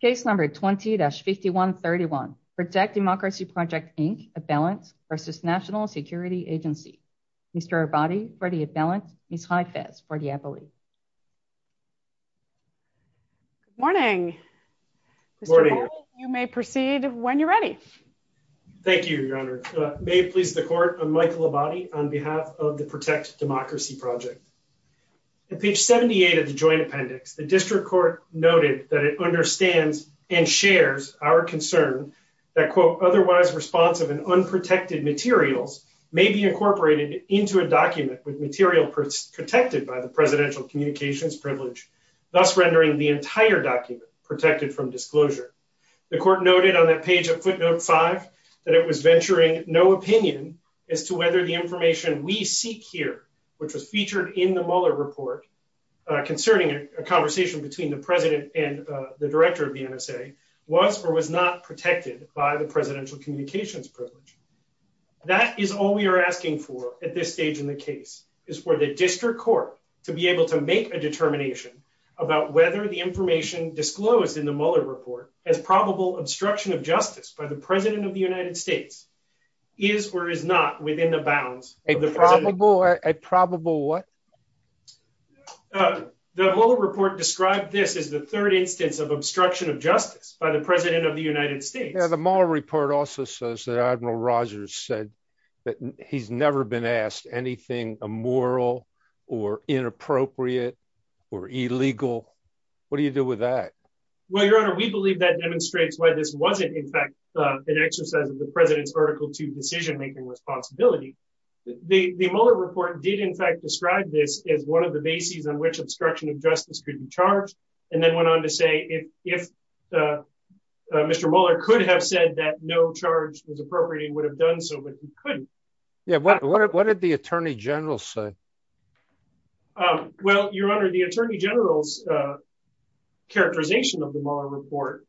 Case Number 20-5131, Protect Democracy Project, Inc., Avalanche v. National Security Agency. Mr. Abadi for the Avalanche, Ms. Haifez for the Avalanche. Good morning. Good morning. You may proceed when you're ready. Thank you, Your Honor. May it please the Court, I'm Michael Abadi on behalf of the Protect Democracy Project. On page 78 of the Joint Appendix, the District Court noted that it understands and shares our concern that, quote, otherwise responsive and unprotected materials may be incorporated into a document with material protected by the presidential communications privilege, thus rendering the entire document protected from disclosure. The Court noted on that page of footnote 5 that it was venturing no opinion as to whether the information we seek here, which was featured in the Mueller report concerning a conversation between the President and the Director of the NSA, was or was not protected by the presidential communications privilege. That is all we are asking for at this stage in the case, is for the District Court to be able to make a determination about whether the information disclosed in the Mueller report as probable obstruction of justice by the President of the United States is or is not within the bounds of the probable what? The Mueller report described this as the third instance of obstruction of justice by the President of the United States. The Mueller report also says that Admiral Rogers said that he's never been asked anything immoral or inappropriate or illegal. What do you do with that? Well, Your Honor, we believe that demonstrates why this wasn't, in fact, an exercise of the President's Article 2 decision-making responsibility. The Mueller report did, in fact, describe this as one of the bases on which obstruction of justice could be charged, and then went on to say if Mr. Mueller could have said that no charge was appropriate, he would have done so, but he couldn't. Yeah, what did the Attorney General say? Well, Your Honor, the Attorney General's characterization of the Mueller report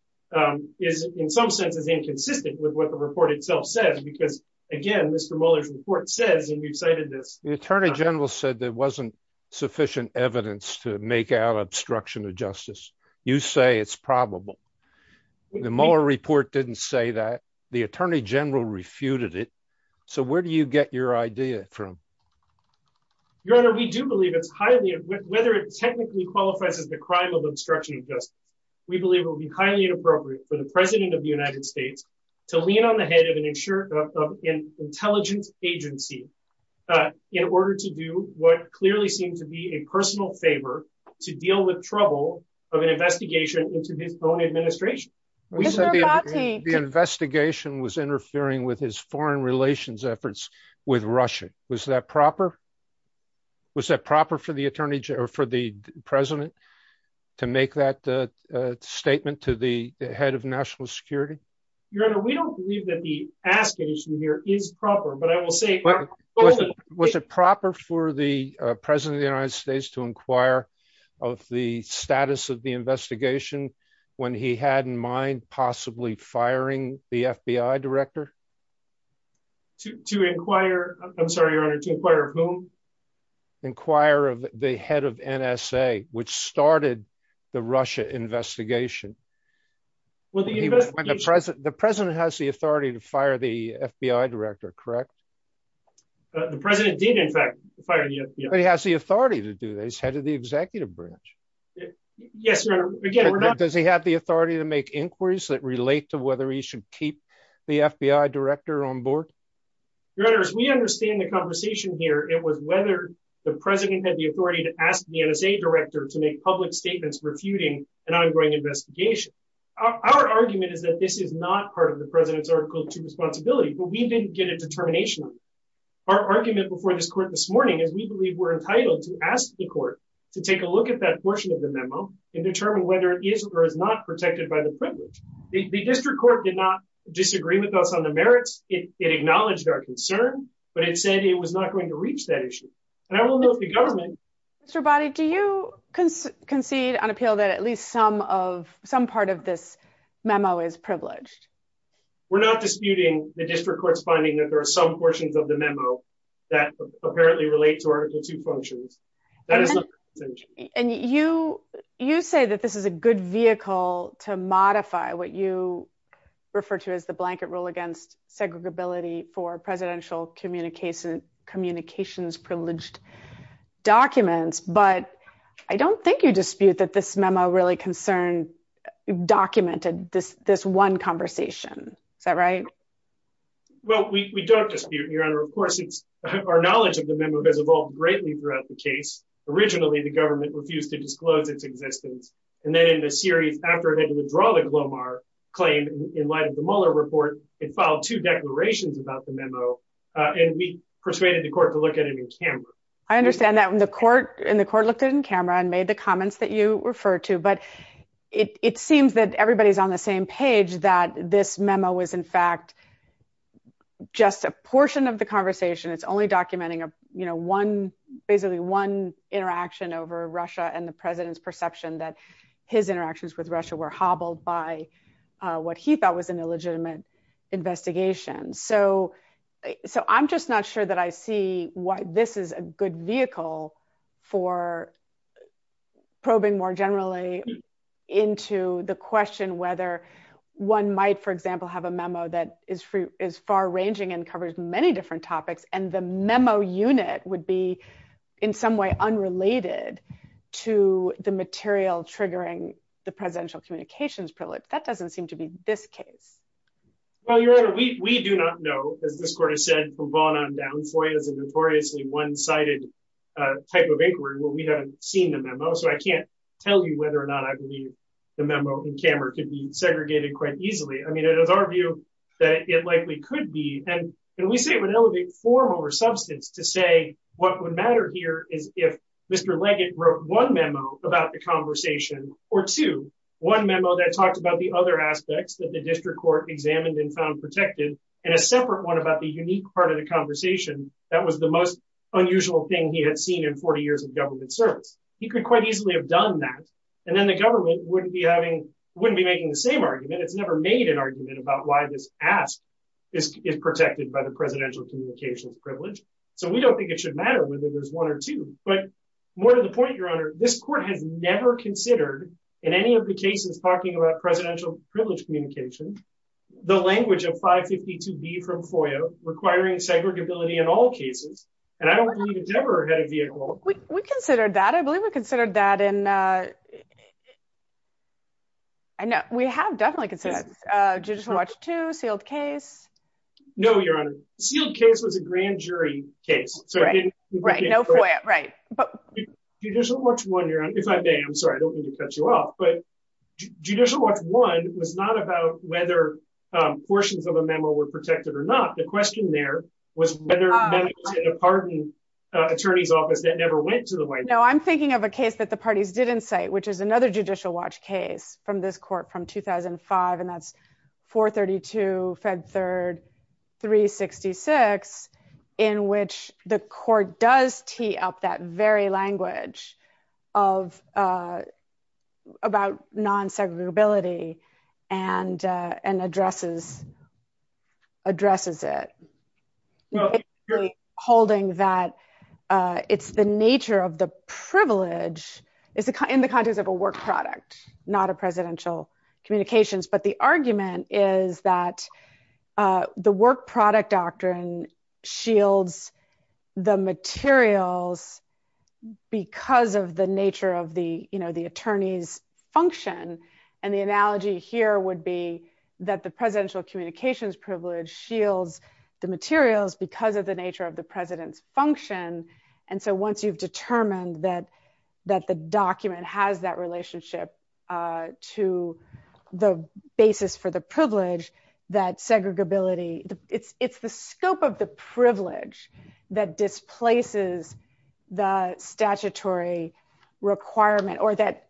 is, in some sense, is inconsistent with what the report itself says because, again, Mr. Mueller's report says, and you've cited this, the Attorney General said there wasn't sufficient evidence to make out obstruction of justice. You say it's probable. The Mueller report didn't say that. The Attorney General refuted it. So where do you get your idea from? Your Honor, we do believe it's highly, whether it technically qualifies as the crime of obstruction of justice, we believe it would be highly inappropriate for the President of the United States to lean on the head of an intelligence agency in order to do what clearly seemed to be a personal favor to deal with trouble of an investigation was interfering with his foreign relations efforts with Russia. Was that proper? Was that proper for the Attorney General, for the President to make that statement to the head of national security? Your Honor, we don't believe that the asking issue here is proper, but I will say, was it proper for the President of the United States to inquire of the status of investigation when he had in mind possibly firing the FBI director? To inquire, I'm sorry, Your Honor, to inquire of whom? Inquire of the head of NSA, which started the Russia investigation. The President has the authority to fire the FBI director, correct? The President did, in fact, he has the authority to do this, head of the executive branch. Yes, Your Honor. Does he have the authority to make inquiries that relate to whether he should keep the FBI director on board? Your Honor, as we understand the conversation here, it was whether the President had the authority to ask the NSA director to make public statements refuting an ongoing investigation. Our argument is that this is not part of the President's article to responsibility, but we didn't get a determination. Our argument before this court this morning is we believe we're entitled to ask the court to take a look at that portion of the memo and determine whether it is or is not protected by the privilege. The district court did not disagree with us on the merits. It acknowledged our concern, but it said it was not going to reach that issue. And I don't know if the government... Mr. Boddy, do you concede on appeal that at least some of, some part of this memo is privileged? We're not disputing the district court's finding that there are some portions of the memo that apparently relate to article two functions. And you say that this is a good vehicle to modify what you refer to as the blanket rule against segregability for presidential communications privileged documents, but I don't think you dispute that this memo really concerned, documented this one conversation. Is that right? Well, we don't dispute, Your Honor. Of course, it's, our knowledge of the memo has evolved greatly throughout the case. Originally, the government refused to disclose its existence. And then in the series, after it had to withdraw the Glomar claim in light of the Mueller report, it filed two declarations about the memo and we persuaded the court to look at it in camera. I understand that when the court and the court looked at it in camera and made the comments that you refer to, but it seems that everybody's on the same page that this memo was in fact, just a portion of the conversation. It's only documenting, you know, one, basically one interaction over Russia and the president's perception that his interactions with Russia were hobbled by what he thought was an illegitimate investigation. So, so I'm just not sure that I see why this is a good vehicle for probing more generally into the question, whether one might, for example, have a memo that is free is far ranging and covers many different topics. And the memo unit would be in some way, unrelated to the material triggering the presidential communications privilege. That doesn't seem to be this case. Well, Your Honor, we do not know, as this court has said, from Vaughn on down, FOIA is a notoriously one-sided type of inquiry where we haven't seen the memo. So I can't tell you whether or not I believe the memo in camera could be segregated quite easily. I mean, it is our view that it likely could be, and we say it would elevate form over substance to say what would matter here is if Mr. Leggett wrote one memo about the conversation or two, one memo that talked about the other aspects that the district court examined and found protected, and a separate one about the unique part of the conversation that was the most unusual thing he had seen in 40 years of government service. He could quite easily have done that. And then the government wouldn't be having, wouldn't be making the same argument. It's never made an argument about why this ask is protected by the presidential communications privilege. So we don't think it should matter whether there's one or two, but more to the point, Your Honor, this court has about presidential privilege communication, the language of 552B from FOIA requiring segregability in all cases. And I don't believe it's ever had a vehicle. We considered that. I believe we considered that in, I know we have definitely considered that. Judicial Watch 2, sealed case. No, Your Honor. Sealed case was a grand jury case. Right, no FOIA, right. Judicial Watch 1, Your Honor, if I may, I'm sorry, I don't mean to cut you off, but Judicial Watch 1 was not about whether portions of a memo were protected or not. The question there was whether the pardon attorney's office that never went to the White House. No, I'm thinking of a case that the parties didn't say, which is another Judicial Watch case from this court from 2005, and that's 432 Fed Third 366, in which the court does tee up that very language about non-segregability and addresses it, holding that it's the nature of the privilege in the context of a work product, not a presidential communications. But the argument is that the work product doctrine shields the materials because of the nature of the attorney's function. And the analogy here would be that the presidential communications privilege shields the materials because of the nature of the president's function. And so once you've that segregability, it's the scope of the privilege that displaces the statutory requirement or that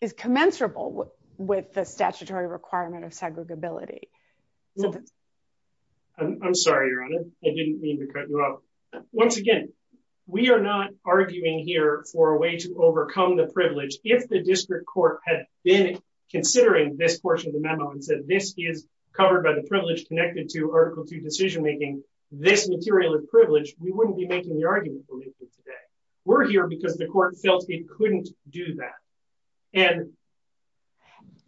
is commensurable with the statutory requirement of segregability. I'm sorry, Your Honor, I didn't mean to cut you off. Once again, we are not arguing here for a had been considering this portion of the memo and said, this is covered by the privilege connected to Article II decision-making, this material of privilege, we wouldn't be making the argument we're making today. We're here because the court felt it couldn't do that. And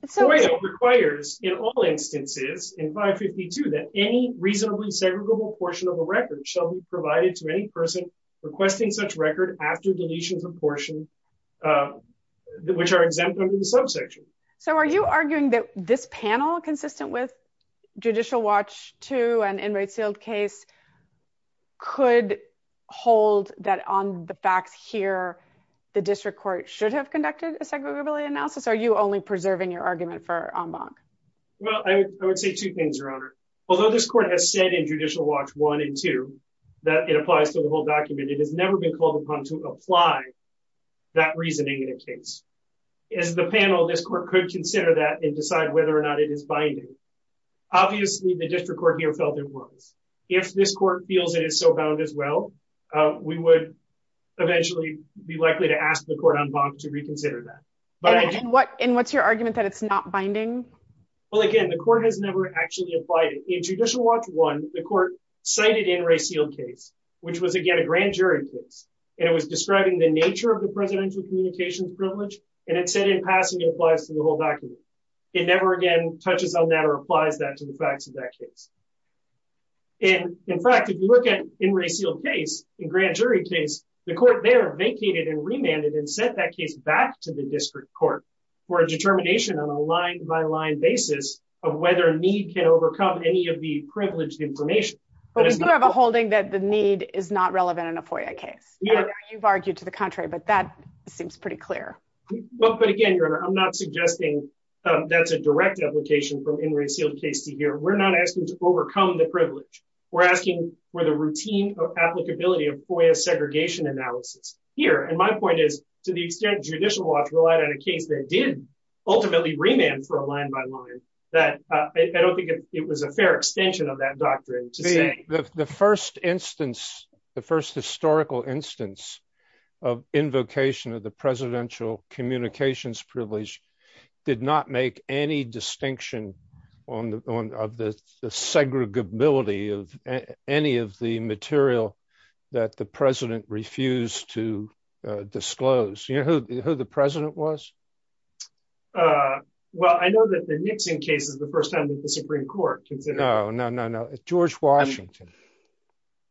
FOIA requires in all instances in 552 that any reasonably segregable portion of a record shall be provided to any person requesting such record after deletions of portion, uh, which are exempt under the subsection. So are you arguing that this panel consistent with Judicial Watch II and Inmate Sealed Case could hold that on the facts here, the district court should have conducted a segregability analysis? Are you only preserving your argument for en banc? Well, I would say two things, Your Honor. Although this court has said in Judicial Watch I and II that it applies to the whole document, it has never been called upon to that reasoning in a case. As the panel, this court could consider that and decide whether or not it is binding. Obviously, the district court here felt it was. If this court feels it is so bound as well, uh, we would eventually be likely to ask the court en banc to reconsider that. And what, and what's your argument that it's not binding? Well, again, the court has never actually applied it. In Judicial Watch I, the court cited Inmate Sealed Case, which was again a grand jury case, and it was describing the presidential communications privilege, and it said in passing it applies to the whole document. It never again touches on that or applies that to the facts of that case. And in fact, if you look at Inmate Sealed Case, the grand jury case, the court there vacated and remanded and sent that case back to the district court for a determination on a line by line basis of whether a need can overcome any of the privileged information. But we do have a holding that the need is not relevant in a FOIA case. You've argued to the contrary, but that seems pretty clear. But again, I'm not suggesting that's a direct application from Inmate Sealed Case to here. We're not asking to overcome the privilege. We're asking for the routine of applicability of FOIA segregation analysis here. And my point is, to the extent Judicial Watch relied on a case that did ultimately remand for a line by line, that I don't think it was a fair extension of that doctrine. The first historical instance of invocation of the presidential communications privilege did not make any distinction of the segregability of any of the material that the president refused to disclose. You know who the president was? Well, I know that the Nixon case is the first time that the Supreme Court considered... No, no, no, no. George Washington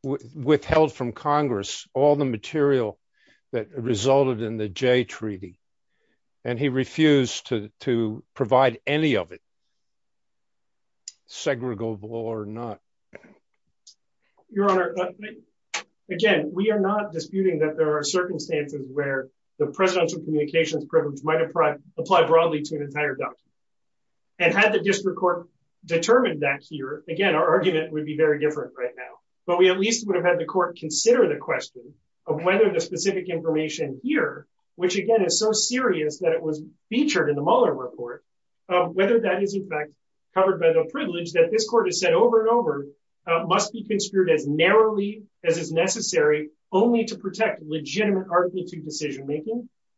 withheld from Congress all the material that resulted in the Jay Treaty, and he refused to provide any of it, segregable or not. Your Honor, again, we are not disputing that there are circumstances where the presidential communications privilege might apply broadly to an entire doctrine. And had the district court determined that here, again, our argument would be very different right now. But we at least would have had the court consider the question of whether the specific information here, which again is so serious that it was featured in the Mueller report, whether that is in fact covered by the privilege that this court has said over and over, must be construed as narrowly as is necessary only to protect legitimate argumentative decision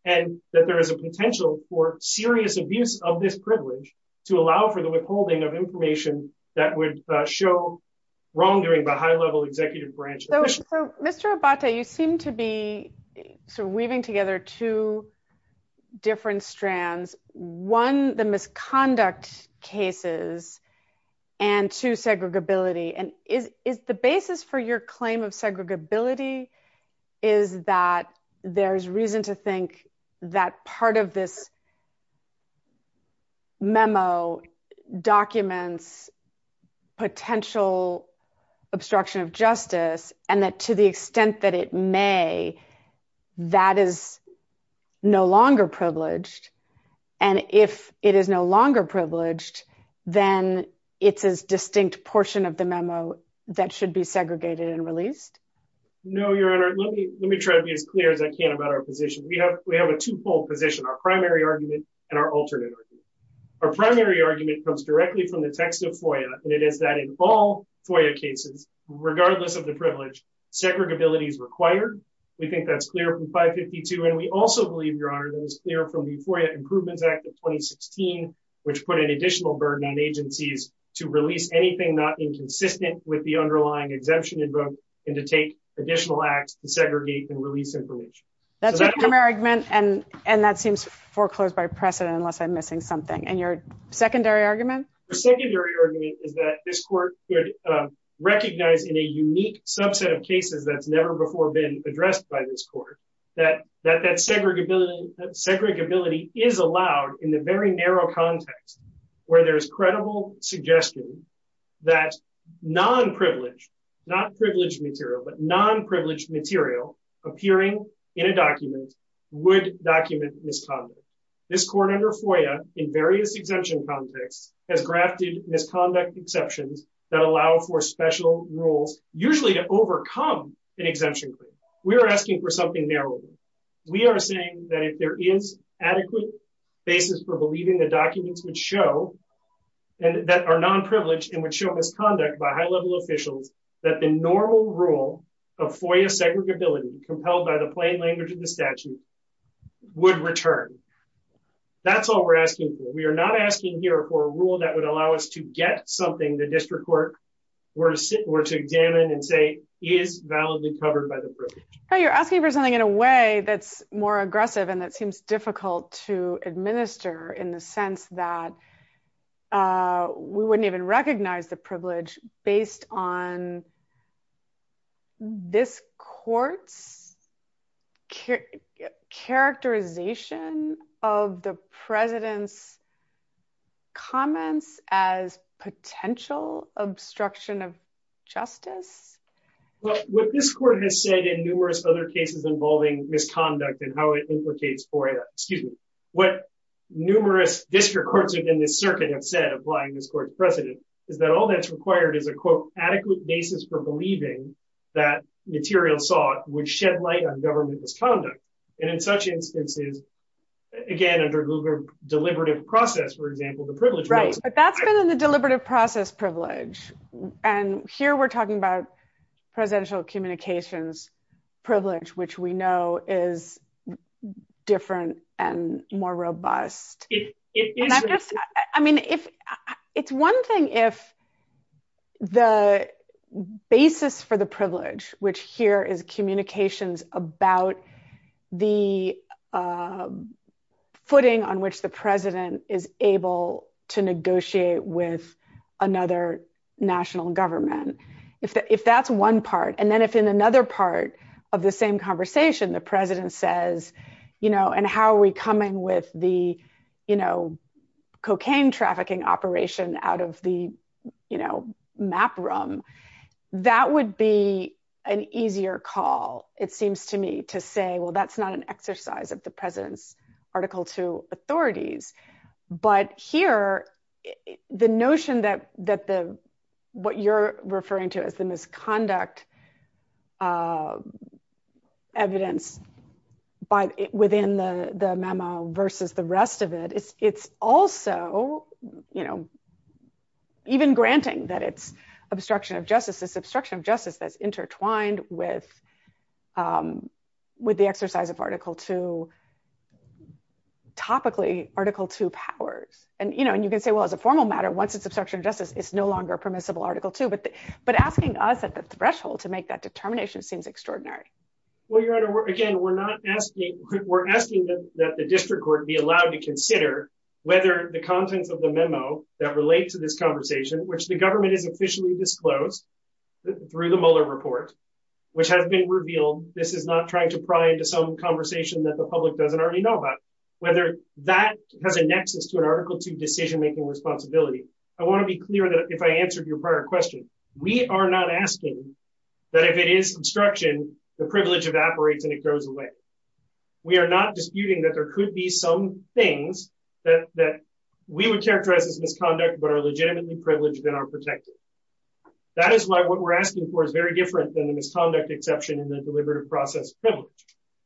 and that there is a potential for serious abuse of this privilege to allow for the withholding of information that would show wrongdoing by high-level executive branch officials. So, Mr. Abate, you seem to be weaving together two different strands. One, the misconduct cases, and two, segregability. And is the basis for your claim of segregability is that there's reason to think that part of this memo documents potential obstruction of justice and that to the extent that it may, that is no longer privileged. And if it is no longer privileged, then it's as distinct portion of the memo that should be segregated and released? No, Your Honor, let me try to be as clear as I can about our position. We have a two-fold position, our primary argument and our alternate argument. Our primary argument comes directly from the text of FOIA, and it is that in all FOIA cases, regardless of the privilege, segregability is required. We think that's clear from 552. And we also believe, Your Honor, that is clear from the FOIA Improvements Act of 2016, which put an additional burden on agencies to release anything not inconsistent with the underlying exemption invoked and to take additional acts to segregate and release information. That's your primary argument, and that seems foreclosed by precedent, unless I'm missing something. And your secondary argument? The secondary argument is that this court could recognize in a unique subset of cases that's never before been addressed by this court that that segregability is allowed in the very narrow context where there's credible suggestion that non-privileged, not privileged material, but non-privileged material appearing in a document would document misconduct. This court under FOIA, in various exemption contexts, has grafted misconduct exceptions that allow for special rules, usually to overcome an exemption claim. We are asking for something adequate basis for believing the documents would show, that are non-privileged and would show misconduct by high-level officials, that the normal rule of FOIA segregability, compelled by the plain language of the statute, would return. That's all we're asking for. We are not asking here for a rule that would allow us to get something the district court were to examine and say is validly covered by the privilege. But you're asking for something in a way that's more aggressive and that seems difficult to administer in the sense that we wouldn't even recognize the privilege based on this court's characterization of the president's comments as potential obstruction of justice? Well, what this court has said in numerous other cases involving misconduct and how it implicates FOIA, excuse me, what numerous district courts within this circuit have said, applying this court's precedent, is that all that's required is a, quote, adequate basis for believing that material sought would shed light on government misconduct. And in such instances, again, under Gluger deliberative process, for example, the privilege- Right. But that's been in the deliberative process privilege. And here we're talking about presidential communications privilege, which we know is different and more robust. I mean, it's one thing if the basis for the privilege, which here is communications about the footing on which the president is able to negotiate with another national government. If that's one part, and then if in another part of the same conversation, the president says, and how are we coming with the cocaine trafficking operation out of the map room, that would be an easier call, it seems to me, to say, well, that's not an exercise of the referring to as the misconduct evidence within the memo versus the rest of it. It's also, you know, even granting that it's obstruction of justice, it's obstruction of justice that's intertwined with the exercise of Article II, topically Article II powers. And, you know, and you can say, well, as a formal matter, once it's obstruction of justice, it's no longer permissible Article II. But asking us at the threshold to make that determination seems extraordinary. Well, Your Honor, again, we're not asking, we're asking that the district court be allowed to consider whether the contents of the memo that relate to this conversation, which the government is officially disclosed through the Mueller report, which has been revealed, this is not trying to pry into some conversation that the public doesn't already know about, whether that has a nexus to an Article II decision making responsibility. I want to be clear that if I answered your prior question, we are not asking that if it is obstruction, the privilege evaporates and it goes away. We are not disputing that there could be some things that we would characterize as misconduct, but are legitimately privileged and are protected. That is why what we're asking for is very different than the misconduct exception in the deliberative process privilege.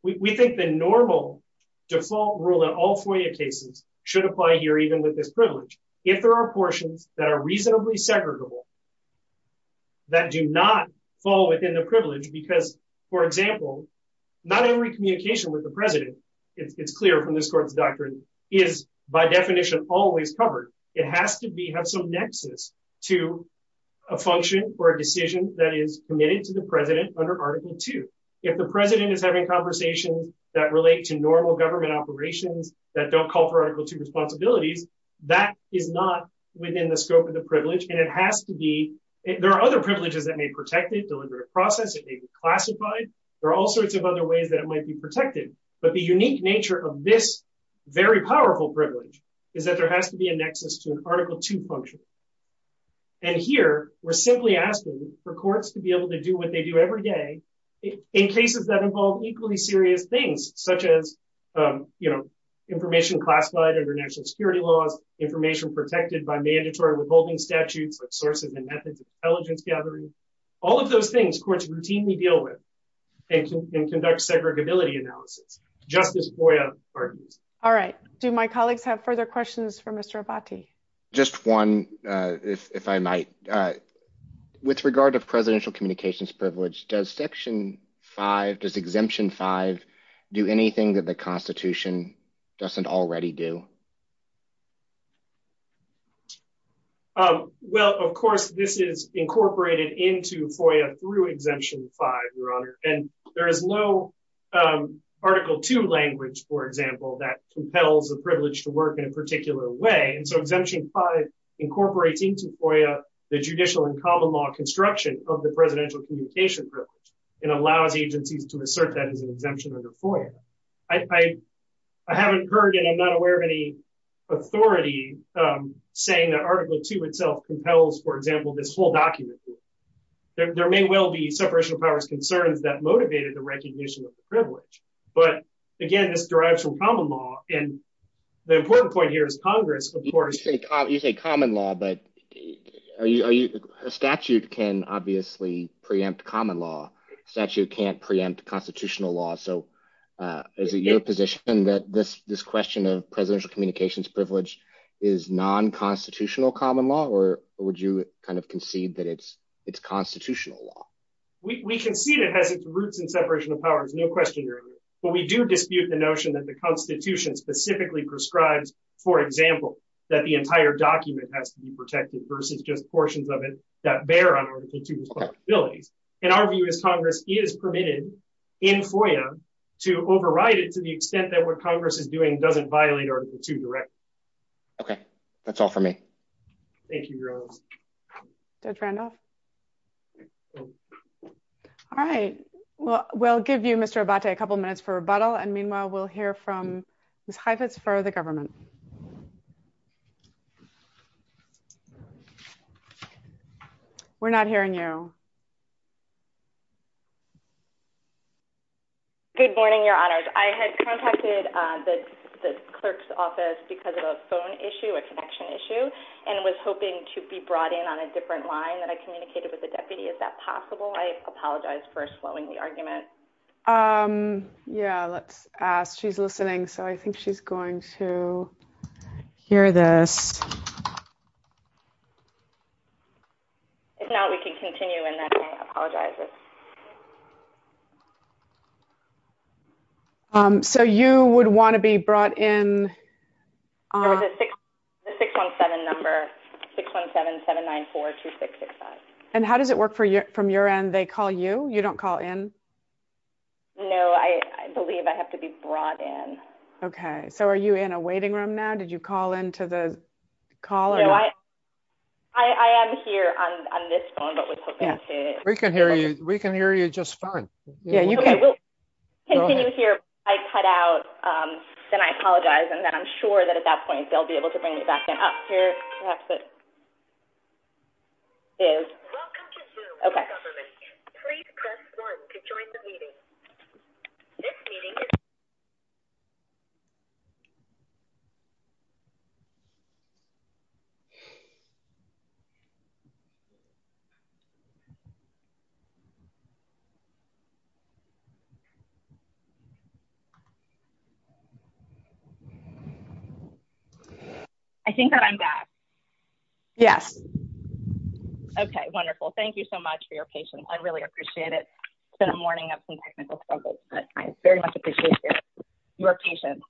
We think the normal default rule that all FOIA cases should apply here, even with this privilege. If there are portions that are reasonably segregable that do not fall within the privilege, because for example, not every communication with the president, it's clear from this court's doctrine, is by definition always covered. It has to be, have some nexus to a function or a decision that is committed to the president under Article II. If the president is having conversations that relate to normal government operations, that don't call for Article II responsibilities, that is not within the scope of the privilege. And it has to be, there are other privileges that may protect it, deliberative process, it may be classified. There are all sorts of other ways that it might be protected, but the unique nature of this very powerful privilege is that there has to be a nexus to an Article II function. And here we're simply asking for courts to be able to do what they do every day in cases that involve equally serious things, such as, you know, information classified under national security laws, information protected by mandatory withholding statutes, like sources and methods of intelligence gathering. All of those things courts routinely deal with and conduct segregability analysis, just as FOIA argues. All right. Do my colleagues have further questions for Mr. Abbate? Just one, if I might. With regard to presidential communications privilege, does Section 5, does Exemption 5 do anything that the Constitution doesn't already do? Well, of course, this is incorporated into FOIA through Exemption 5, Your Honor. And there is no Article II language, for example, that compels the privilege to work in a particular way. So Exemption 5 incorporates into FOIA the judicial and common law construction of the presidential communication privilege and allows agencies to assert that as an exemption under FOIA. I haven't heard, and I'm not aware of any authority saying that Article II itself compels, for example, this whole document. There may well be separation of powers concerns that motivated the recognition of the privilege. But again, this derives from common law. And the important point here is Congress, of course... You say common law, but a statute can obviously preempt common law. Statute can't preempt constitutional law. So is it your position that this question of presidential communications privilege is non-constitutional common law? Or would you kind of concede that it's constitutional law? We concede it has its roots in separation of powers, no question, Your Honor. But we do the notion that the Constitution specifically prescribes, for example, that the entire document has to be protected versus just portions of it that bear on Article II responsibilities. And our view is Congress is permitted in FOIA to override it to the extent that what Congress is doing doesn't violate Article II directly. Okay. That's all for me. Thank you, Your Honor. Judge Randolph? All right. Well, we'll give you, Mr. Abate, a couple minutes for rebuttal. And meanwhile, we'll hear from Ms. Heifetz for the government. We're not hearing you. Good morning, Your Honors. I had contacted the clerk's office because of a phone issue, a connection issue, and was hoping to be brought in on a different line that I can use. Is that possible? I apologize for slowing the argument. Yeah, let's ask. She's listening, so I think she's going to hear this. If not, we can continue and then I apologize. So you would want to be brought in? There was a 617 number, 617-794-2665. And how does it work from your end? They call you? You don't call in? No, I believe I have to be brought in. Okay. So are you in a waiting room now? Did you call into the call? I am here on this phone, but was hoping I could... We can hear you just fine. Yeah, you can. Okay, we'll continue here. If I cut out, then I apologize, and then I'm sure that at that point, they'll be able to bring me back in. Oh, here, perhaps it is. Welcome to Zoom, Mr. Government. Please press 1 to join the meeting. This meeting is... I think that I'm back. Yes. Okay, wonderful. Thank you so much for your patience. I really appreciate it. It's been a morning of some technical struggles, but I very much appreciate your patience.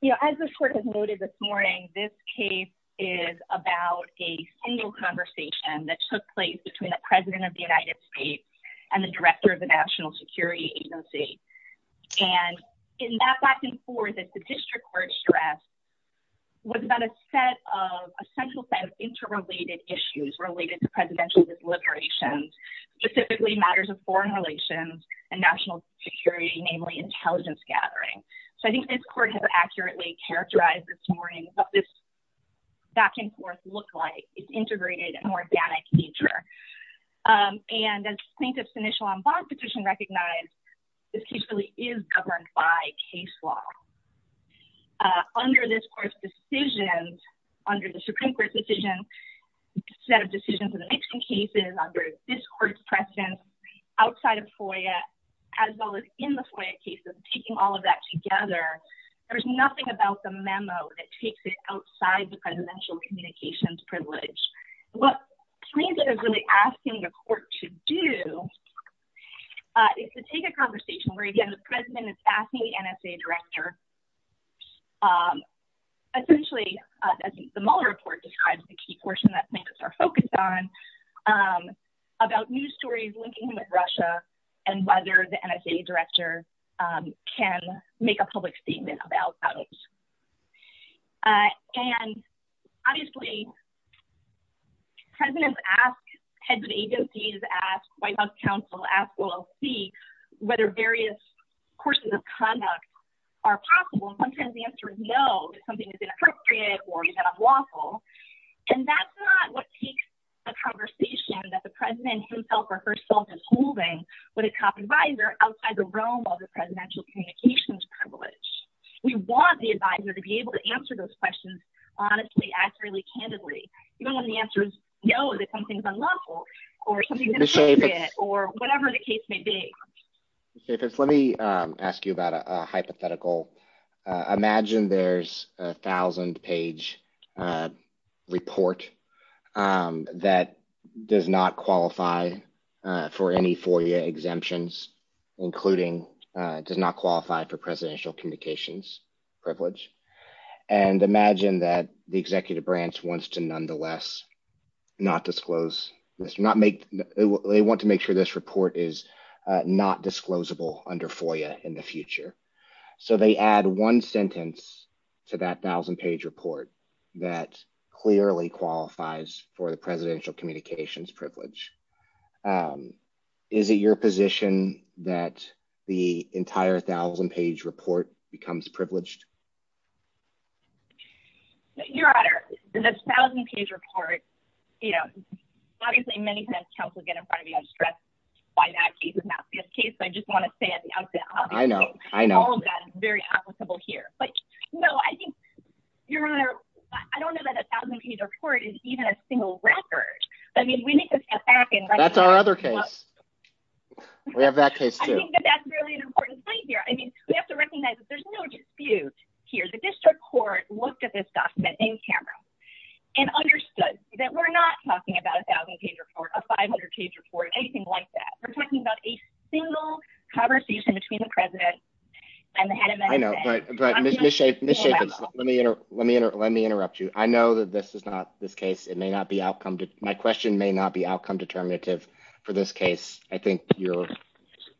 You know, as the Court has noted this morning, this case is about a single conversation that and the director of the National Security Agency. And in that back and forth that the District Court stressed was about a central set of interrelated issues related to presidential deliberations, specifically matters of foreign relations and national security, namely intelligence gathering. So I think this Court has accurately characterized this morning what this back and forth look like. It's integrated and organic nature. And as plaintiff's initial on bond petition recognized, this case really is governed by case law. Under this Court's decisions, under the Supreme Court's decision, set of decisions in the Nixon cases, under this Court's presence outside of FOIA, as well as in the FOIA cases, taking all of that together, there's nothing about the memo that takes it outside the presidential communications privilege. What plaintiff is really asking the Court to do is to take a conversation where, again, the president is asking the NSA director, essentially, as the Mueller report describes, the key portion that plaintiffs are focused on, about news stories linking with Russia and whether the NSA director can make a public statement. Presidents ask, heads of agencies ask, White House counsel ask, LLC, whether various courses of conduct are possible. And sometimes the answer is no, if something is inappropriate or is out of lawful. And that's not what takes the conversation that the president himself or herself is holding with a top advisor outside the realm of the presidential communications privilege. We want the advisor to be able to answer those questions honestly, accurately, candidly, even when the answer is no, that something's unlawful, or something's inappropriate, or whatever the case may be. Ms. Chaffetz, let me ask you about a hypothetical. Imagine there's a thousand page report that does not qualify for any FOIA exemptions, including does not qualify for the executive branch wants to nonetheless not disclose, they want to make sure this report is not disclosable under FOIA in the future. So they add one sentence to that thousand page report that clearly qualifies for the presidential communications privilege. Is it your position that the entire thousand page report becomes privileged? Your honor, the thousand page report, obviously many times counsel get in front of you, I'm stressed by that case is not the best case. I just want to say at the outset, all of that is very applicable here. But no, I think your honor, I don't know that a thousand page report is even a single record. I mean, we need to- That's our other case. We have that case too. I think that that's really an important point here. I mean, we have to recognize that there's no dispute here. The district court looked at this document in camera and understood that we're not talking about a thousand page report, a 500 page report, anything like that. We're talking about a single conversation between the president and the head of MSN. I know, but Ms. Jacobs, let me interrupt you. I know that this is not this case. It may not be outcome. My question may not be outcome determinative for this case. I think you're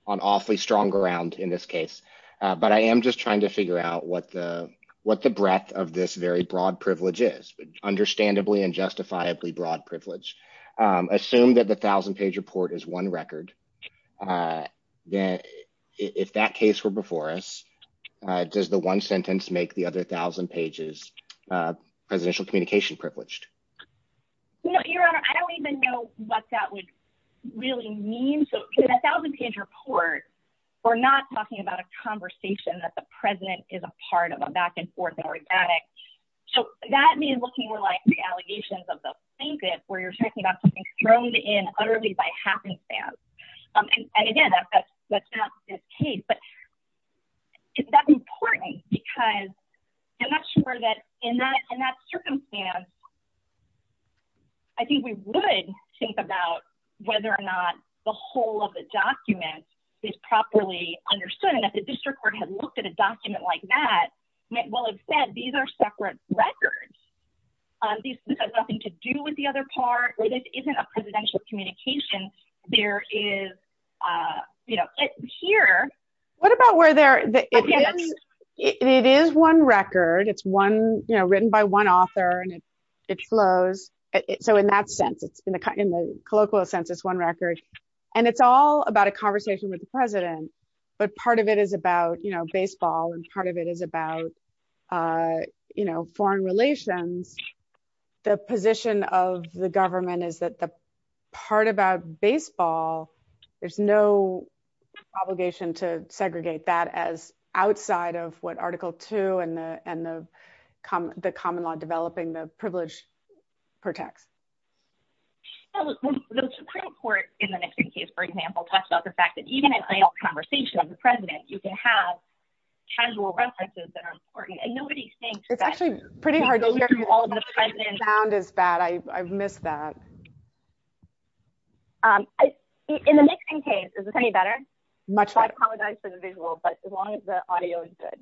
on awfully strong ground in this case. But I am just trying to figure out what the breadth of this very broad privilege is, understandably and justifiably broad privilege. Assume that the thousand page report is one record. If that case were before us, does the one sentence make the other thousand pages presidential communication privileged? No, your honor. I don't even know what that really means. So in a thousand page report, we're not talking about a conversation that the president is a part of a back and forth and organic. So that means looking more like the allegations of the plaintiff where you're talking about something thrown in utterly by happenstance. And again, that's not this case, but that's important because I'm not sure that in that circumstance, I think we would think about whether or not the whole of the document is properly understood. And if the district court had looked at a document like that, well, instead, these are separate records. This has nothing to do with the other part. This isn't a presidential communication. There is, you know, here. What about where there, it is one record, it's one, you know, written by one author and it flows. So in that sense, it's in the colloquial sense, it's one record. And it's all about a conversation with the president. But part of it is about, you know, baseball, and part of it is about, you know, foreign relations. The position of the government is that the part about baseball, there's no obligation to segregate that as outside of what article two and the common law developing the privilege protects. The Supreme Court in the Nixon case, for example, talks about the fact that even in a conversation with the president, you can have casual references that are important. And nobody thinks it's actually pretty hard to hear all of the president's sound is bad. I've missed that. In the Nixon case, is this any better? I apologize for the visual, but as long as the audio is good.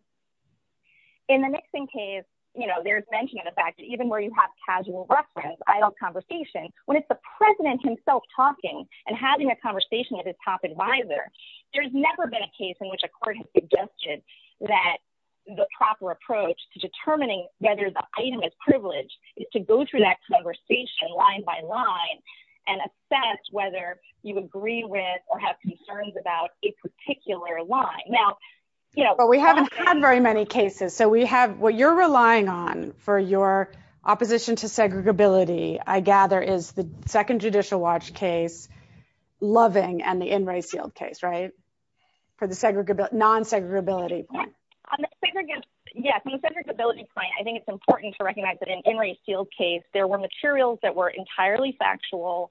In the Nixon case, you know, there's mentioned the fact that even where you have casual reference, idle conversation, when it's the president himself talking and having a conversation with his top advisor, there's never been a case in which a court has suggested that the proper approach to determining whether the item is privileged is to go through that have concerns about a particular line. Now, you know, we haven't had very many cases. So we have what you're relying on for your opposition to segregability, I gather, is the second judicial watch case, loving and the in race field case, right? For the segregable non segregability. Yes, and the segregability point, I think it's important to recognize that in every field case, there were materials that were entirely factual.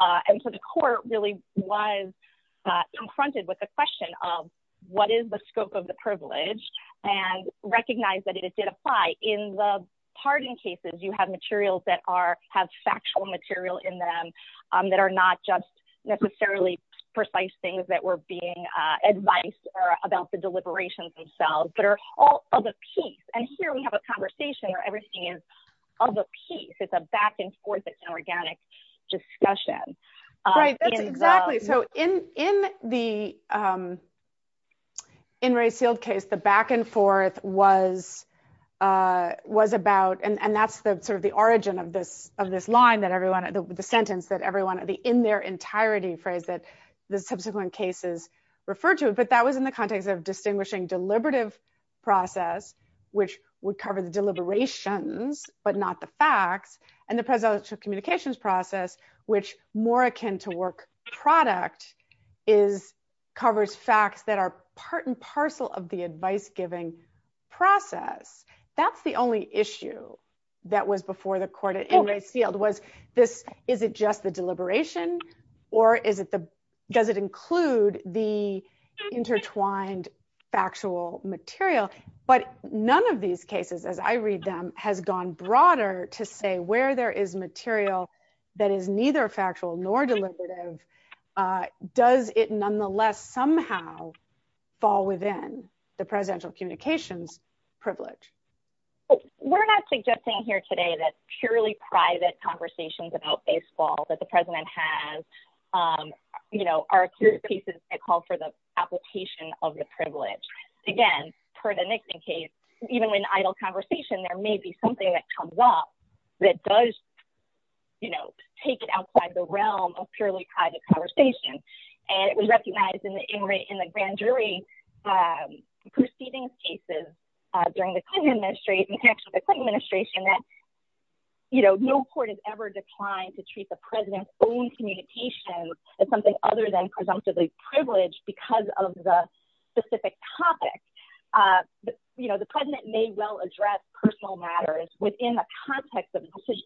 And so the court really was confronted with the question of what is the scope of the privilege, and recognize that it did apply in the pardon cases, you have materials that are have factual material in them, that are not just necessarily precise things that were being advised about the deliberations themselves, but are all of a piece. And here we have a conversation where everything is of a piece, it's a back and forth, it's an organic discussion. Right, that's exactly so in in the in race field case, the back and forth was, was about and that's the sort of the origin of this of this line that everyone at the sentence that everyone at the in their entirety phrase that the subsequent cases refer to it, but that was in context of distinguishing deliberative process, which would cover the deliberations, but not the facts and the presidential communications process, which more akin to work product is covers facts that are part and parcel of the advice giving process. That's the only issue that was before the court in race field was this, is it just the deliberation? Or is it the does it include the intertwined factual material? But none of these cases, as I read them has gone broader to say where there is material that is neither factual nor deliberative. Does it nonetheless somehow fall within the presidential communications privilege? We're not suggesting here today that purely private conversations about baseball that the of the privilege, again, per the Nixon case, even when idle conversation, there may be something that comes up that does, you know, take it outside the realm of purely private conversation. And it was recognized in the in the grand jury proceedings cases during the Clinton administration, the Clinton administration that, you know, no court has ever declined to treat the specific topic. You know, the President may well address personal matters within the context of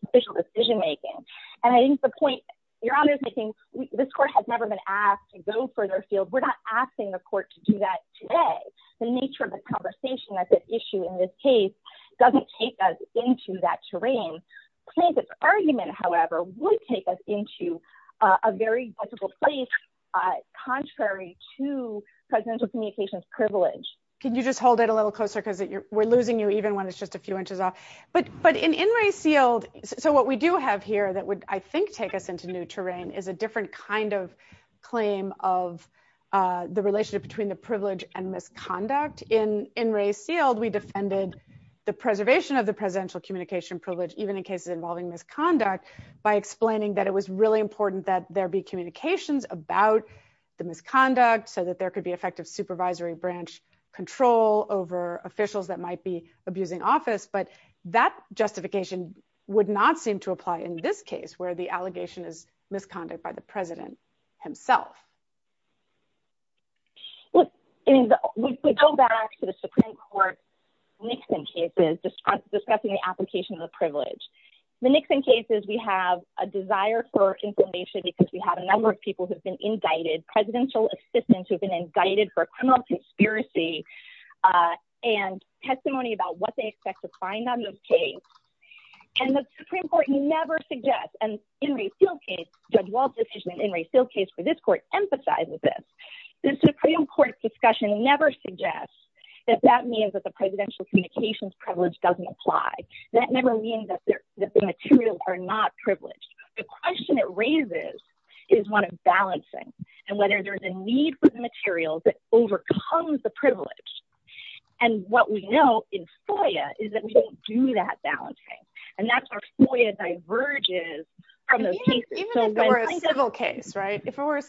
official decision making. And I think the point, Your Honor is making, this court has never been asked to go further field, we're not asking the court to do that today. The nature of the conversation that's at issue in this case, doesn't take us into that terrain. Clinton's argument, however, would take us into a very difficult place, contrary to presidential communications privilege. Can you just hold it a little closer? Because we're losing you even when it's just a few inches off. But but in in Ray Seald, so what we do have here that would I think take us into new terrain is a different kind of claim of the relationship between the privilege and misconduct in in Ray Seald, we defended the preservation of the presidential communication privilege, even in cases involving misconduct, by explaining that it was really important that there be communications about the misconduct so that there could be effective supervisory branch control over officials that might be abusing office, but that justification would not seem to apply in this case where the allegation is misconduct by the President himself. Well, in the go back to the Supreme Court, Nixon cases, just discussing the application of the privilege, the Nixon cases, we have a desire for information because we have a number of people who've been indicted presidential assistants who've been indicted for criminal conspiracy and testimony about what they expect to find on those case. And the Supreme Court never suggests and in Ray Seald case, Judge Walt's decision in Ray Seald case for this court emphasizes this. The Supreme Court discussion never suggests that that means that the presidential communications privilege doesn't apply. That never means that the materials are not privileged. The question it raises is one of balancing and whether there's a need for the materials that overcomes the privilege. And what we know in FOIA is that we don't do that balancing and that's our FOIA diverges from those cases. Even if it were a civil case, right? If it were,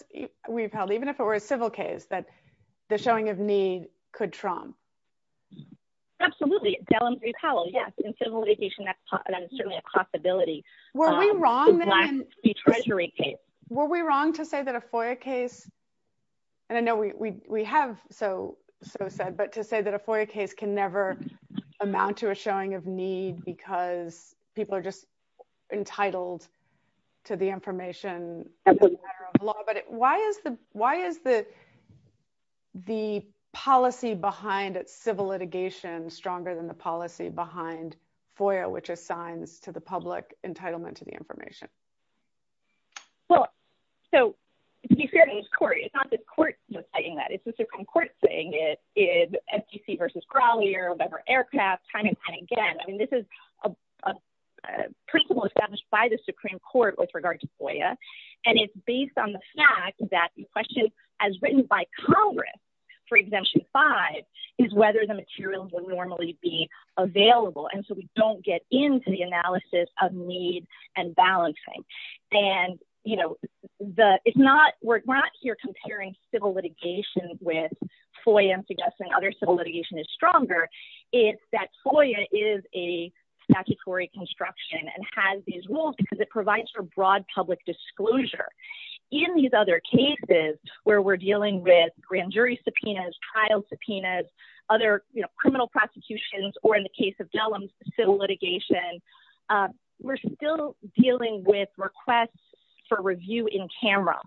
we've held, even if it were a civil case that the showing of need could trump. Absolutely. Del and Brie Powell, yes. In civil litigation, that's certainly a possibility. Were we wrong then? The black treasury case. Were we wrong to say that a FOIA case, and I know we have so said, but to say that a FOIA case can never amount to a showing of need because people are just entitled to the information. But why is the policy behind civil litigation stronger than the policy behind FOIA, which assigns to the So, to be fair to Ms. Corey, it's not the court saying that. It's the Supreme Court saying it is FTC versus Crawley or whatever aircraft time and time again. I mean, this is a principle established by the Supreme Court with regard to FOIA. And it's based on the fact that the question as written by Congress for exemption five is whether the materials will normally be available. So, we don't get into the analysis of need and balancing. We're not here comparing civil litigation with FOIA and suggesting other civil litigation is stronger. It's that FOIA is a statutory construction and has these rules because it provides for broad public disclosure. In these other cases where we're dealing with grand jury subpoenas, trial subpoenas, other criminal prosecutions, or in the case of Dellum's civil litigation, we're still dealing with requests for review in camera,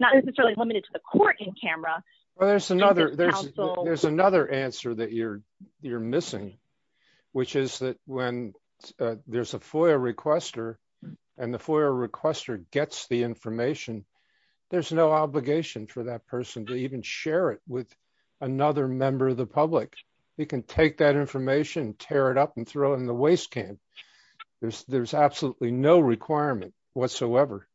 not necessarily limited to the court in camera. There's another answer that you're missing, which is that when there's a FOIA requester and the FOIA requester gets the information, there's no obligation for that person to even share it with another member of the public. They can take that information, tear it up, and throw it in the waste can. There's absolutely no requirement whatsoever.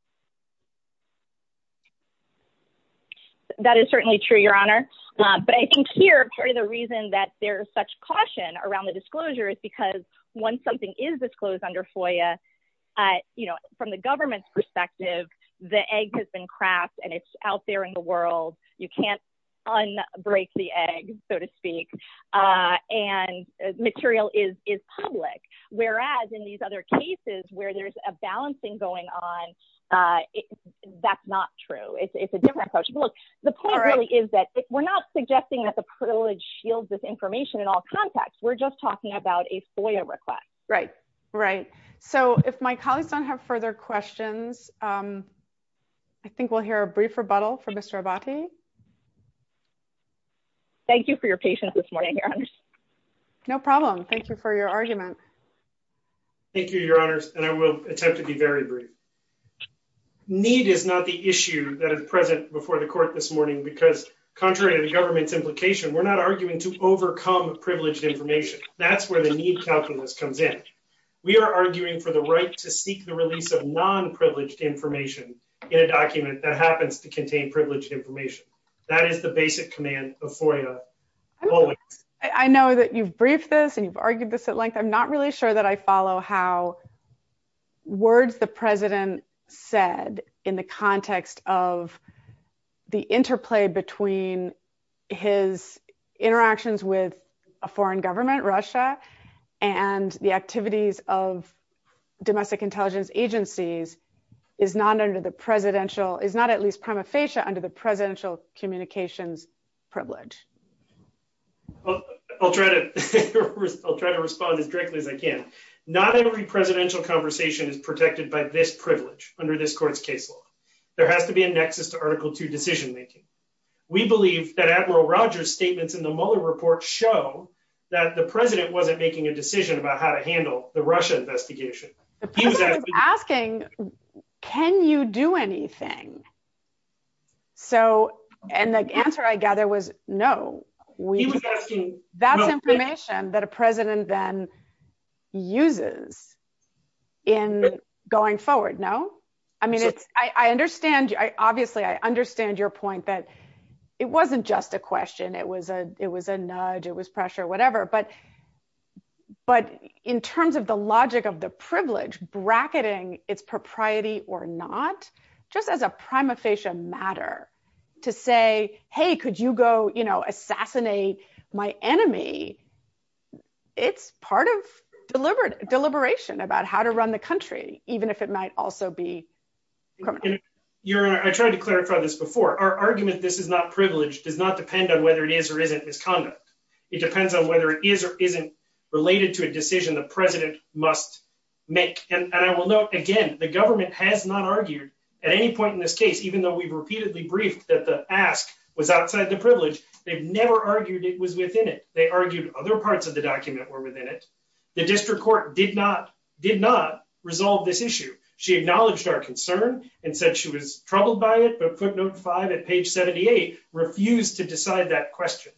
That is certainly true, Your Honor. But I think here, part of the reason that there's such caution around the disclosure is because when something is disclosed under FOIA, from the government's perspective, the egg has been cracked and it's out there in the world. You can't un-break the egg, so to speak, and material is public. Whereas in these other cases where there's a balancing going on, that's not true. It's a different approach. The point really is that we're not suggesting that the privilege shields this information in all contexts. We're just talking about a FOIA request. Right. Right. So if my colleagues don't have further questions, I think we'll hear a brief rebuttal from Mr. Abate. Thank you for your patience this morning, Your Honor. No problem. Thank you for your argument. Thank you, Your Honors, and I will attempt to be very brief. Need is not the issue that is present before the court this morning because, contrary to the government's implication, we're not arguing to overcome privileged information. That's where the calculus comes in. We are arguing for the right to seek the release of non-privileged information in a document that happens to contain privileged information. That is the basic command of FOIA. I know that you've briefed this and you've argued this at length. I'm not really sure that I follow how words the President said in the context of the interplay between his interactions with a foreign government, Russia, and the activities of domestic intelligence agencies is not under the presidential, is not at least prima facie under the presidential communications privilege. I'll try to respond as directly as I can. Not every presidential conversation is protected by this privilege under this court's case law. There has to be a nexus to decision-making. We believe that Admiral Rogers' statements in the Mueller report show that the President wasn't making a decision about how to handle the Russia investigation. He was asking, can you do anything? And the answer, I gather, was no. That's information that a President then uses in going forward. Obviously, I understand your point that it wasn't just a question, it was a nudge, it was pressure, whatever. But in terms of the logic of the privilege bracketing its propriety or not, just as a prima facie matter, to say, hey, could you go assassinate my enemy? It's part of deliberation about how to run the country, even if it might also be criminal. Your Honor, I tried to clarify this before. Our argument, this is not privilege, does not depend on whether it is or isn't his conduct. It depends on whether it is or isn't related to a decision the President must make. And I will note, again, the government has not argued at any point in this case, even though we've repeatedly briefed that the ask was outside the document. They argued it was within it. They argued other parts of the document were within it. The district court did not resolve this issue. She acknowledged our concern and said she was troubled by it, but footnote five at page 78 refused to decide that question.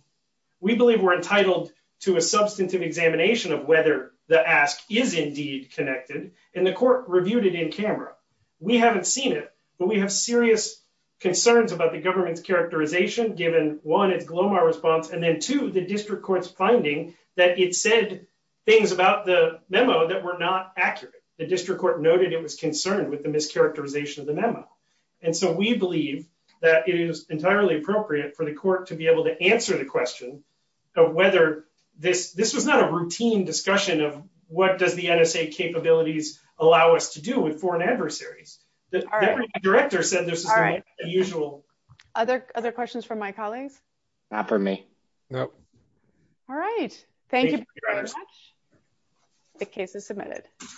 We believe we're entitled to a substantive examination of whether the ask is indeed connected, and the court reviewed it in camera. We haven't seen it, but we have serious concerns about the government's mischaracterization, given one, its Glomar response, and then two, the district court's finding that it said things about the memo that were not accurate. The district court noted it was concerned with the mischaracterization of the memo. And so we believe that it is entirely appropriate for the court to be able to answer the question of whether this, this was not a routine discussion of what does the NSA capabilities allow us to do with foreign adversaries. The director said this is all right. The usual other, other questions from my colleagues, not for me. Nope. All right. Thank you very much. The case is submitted.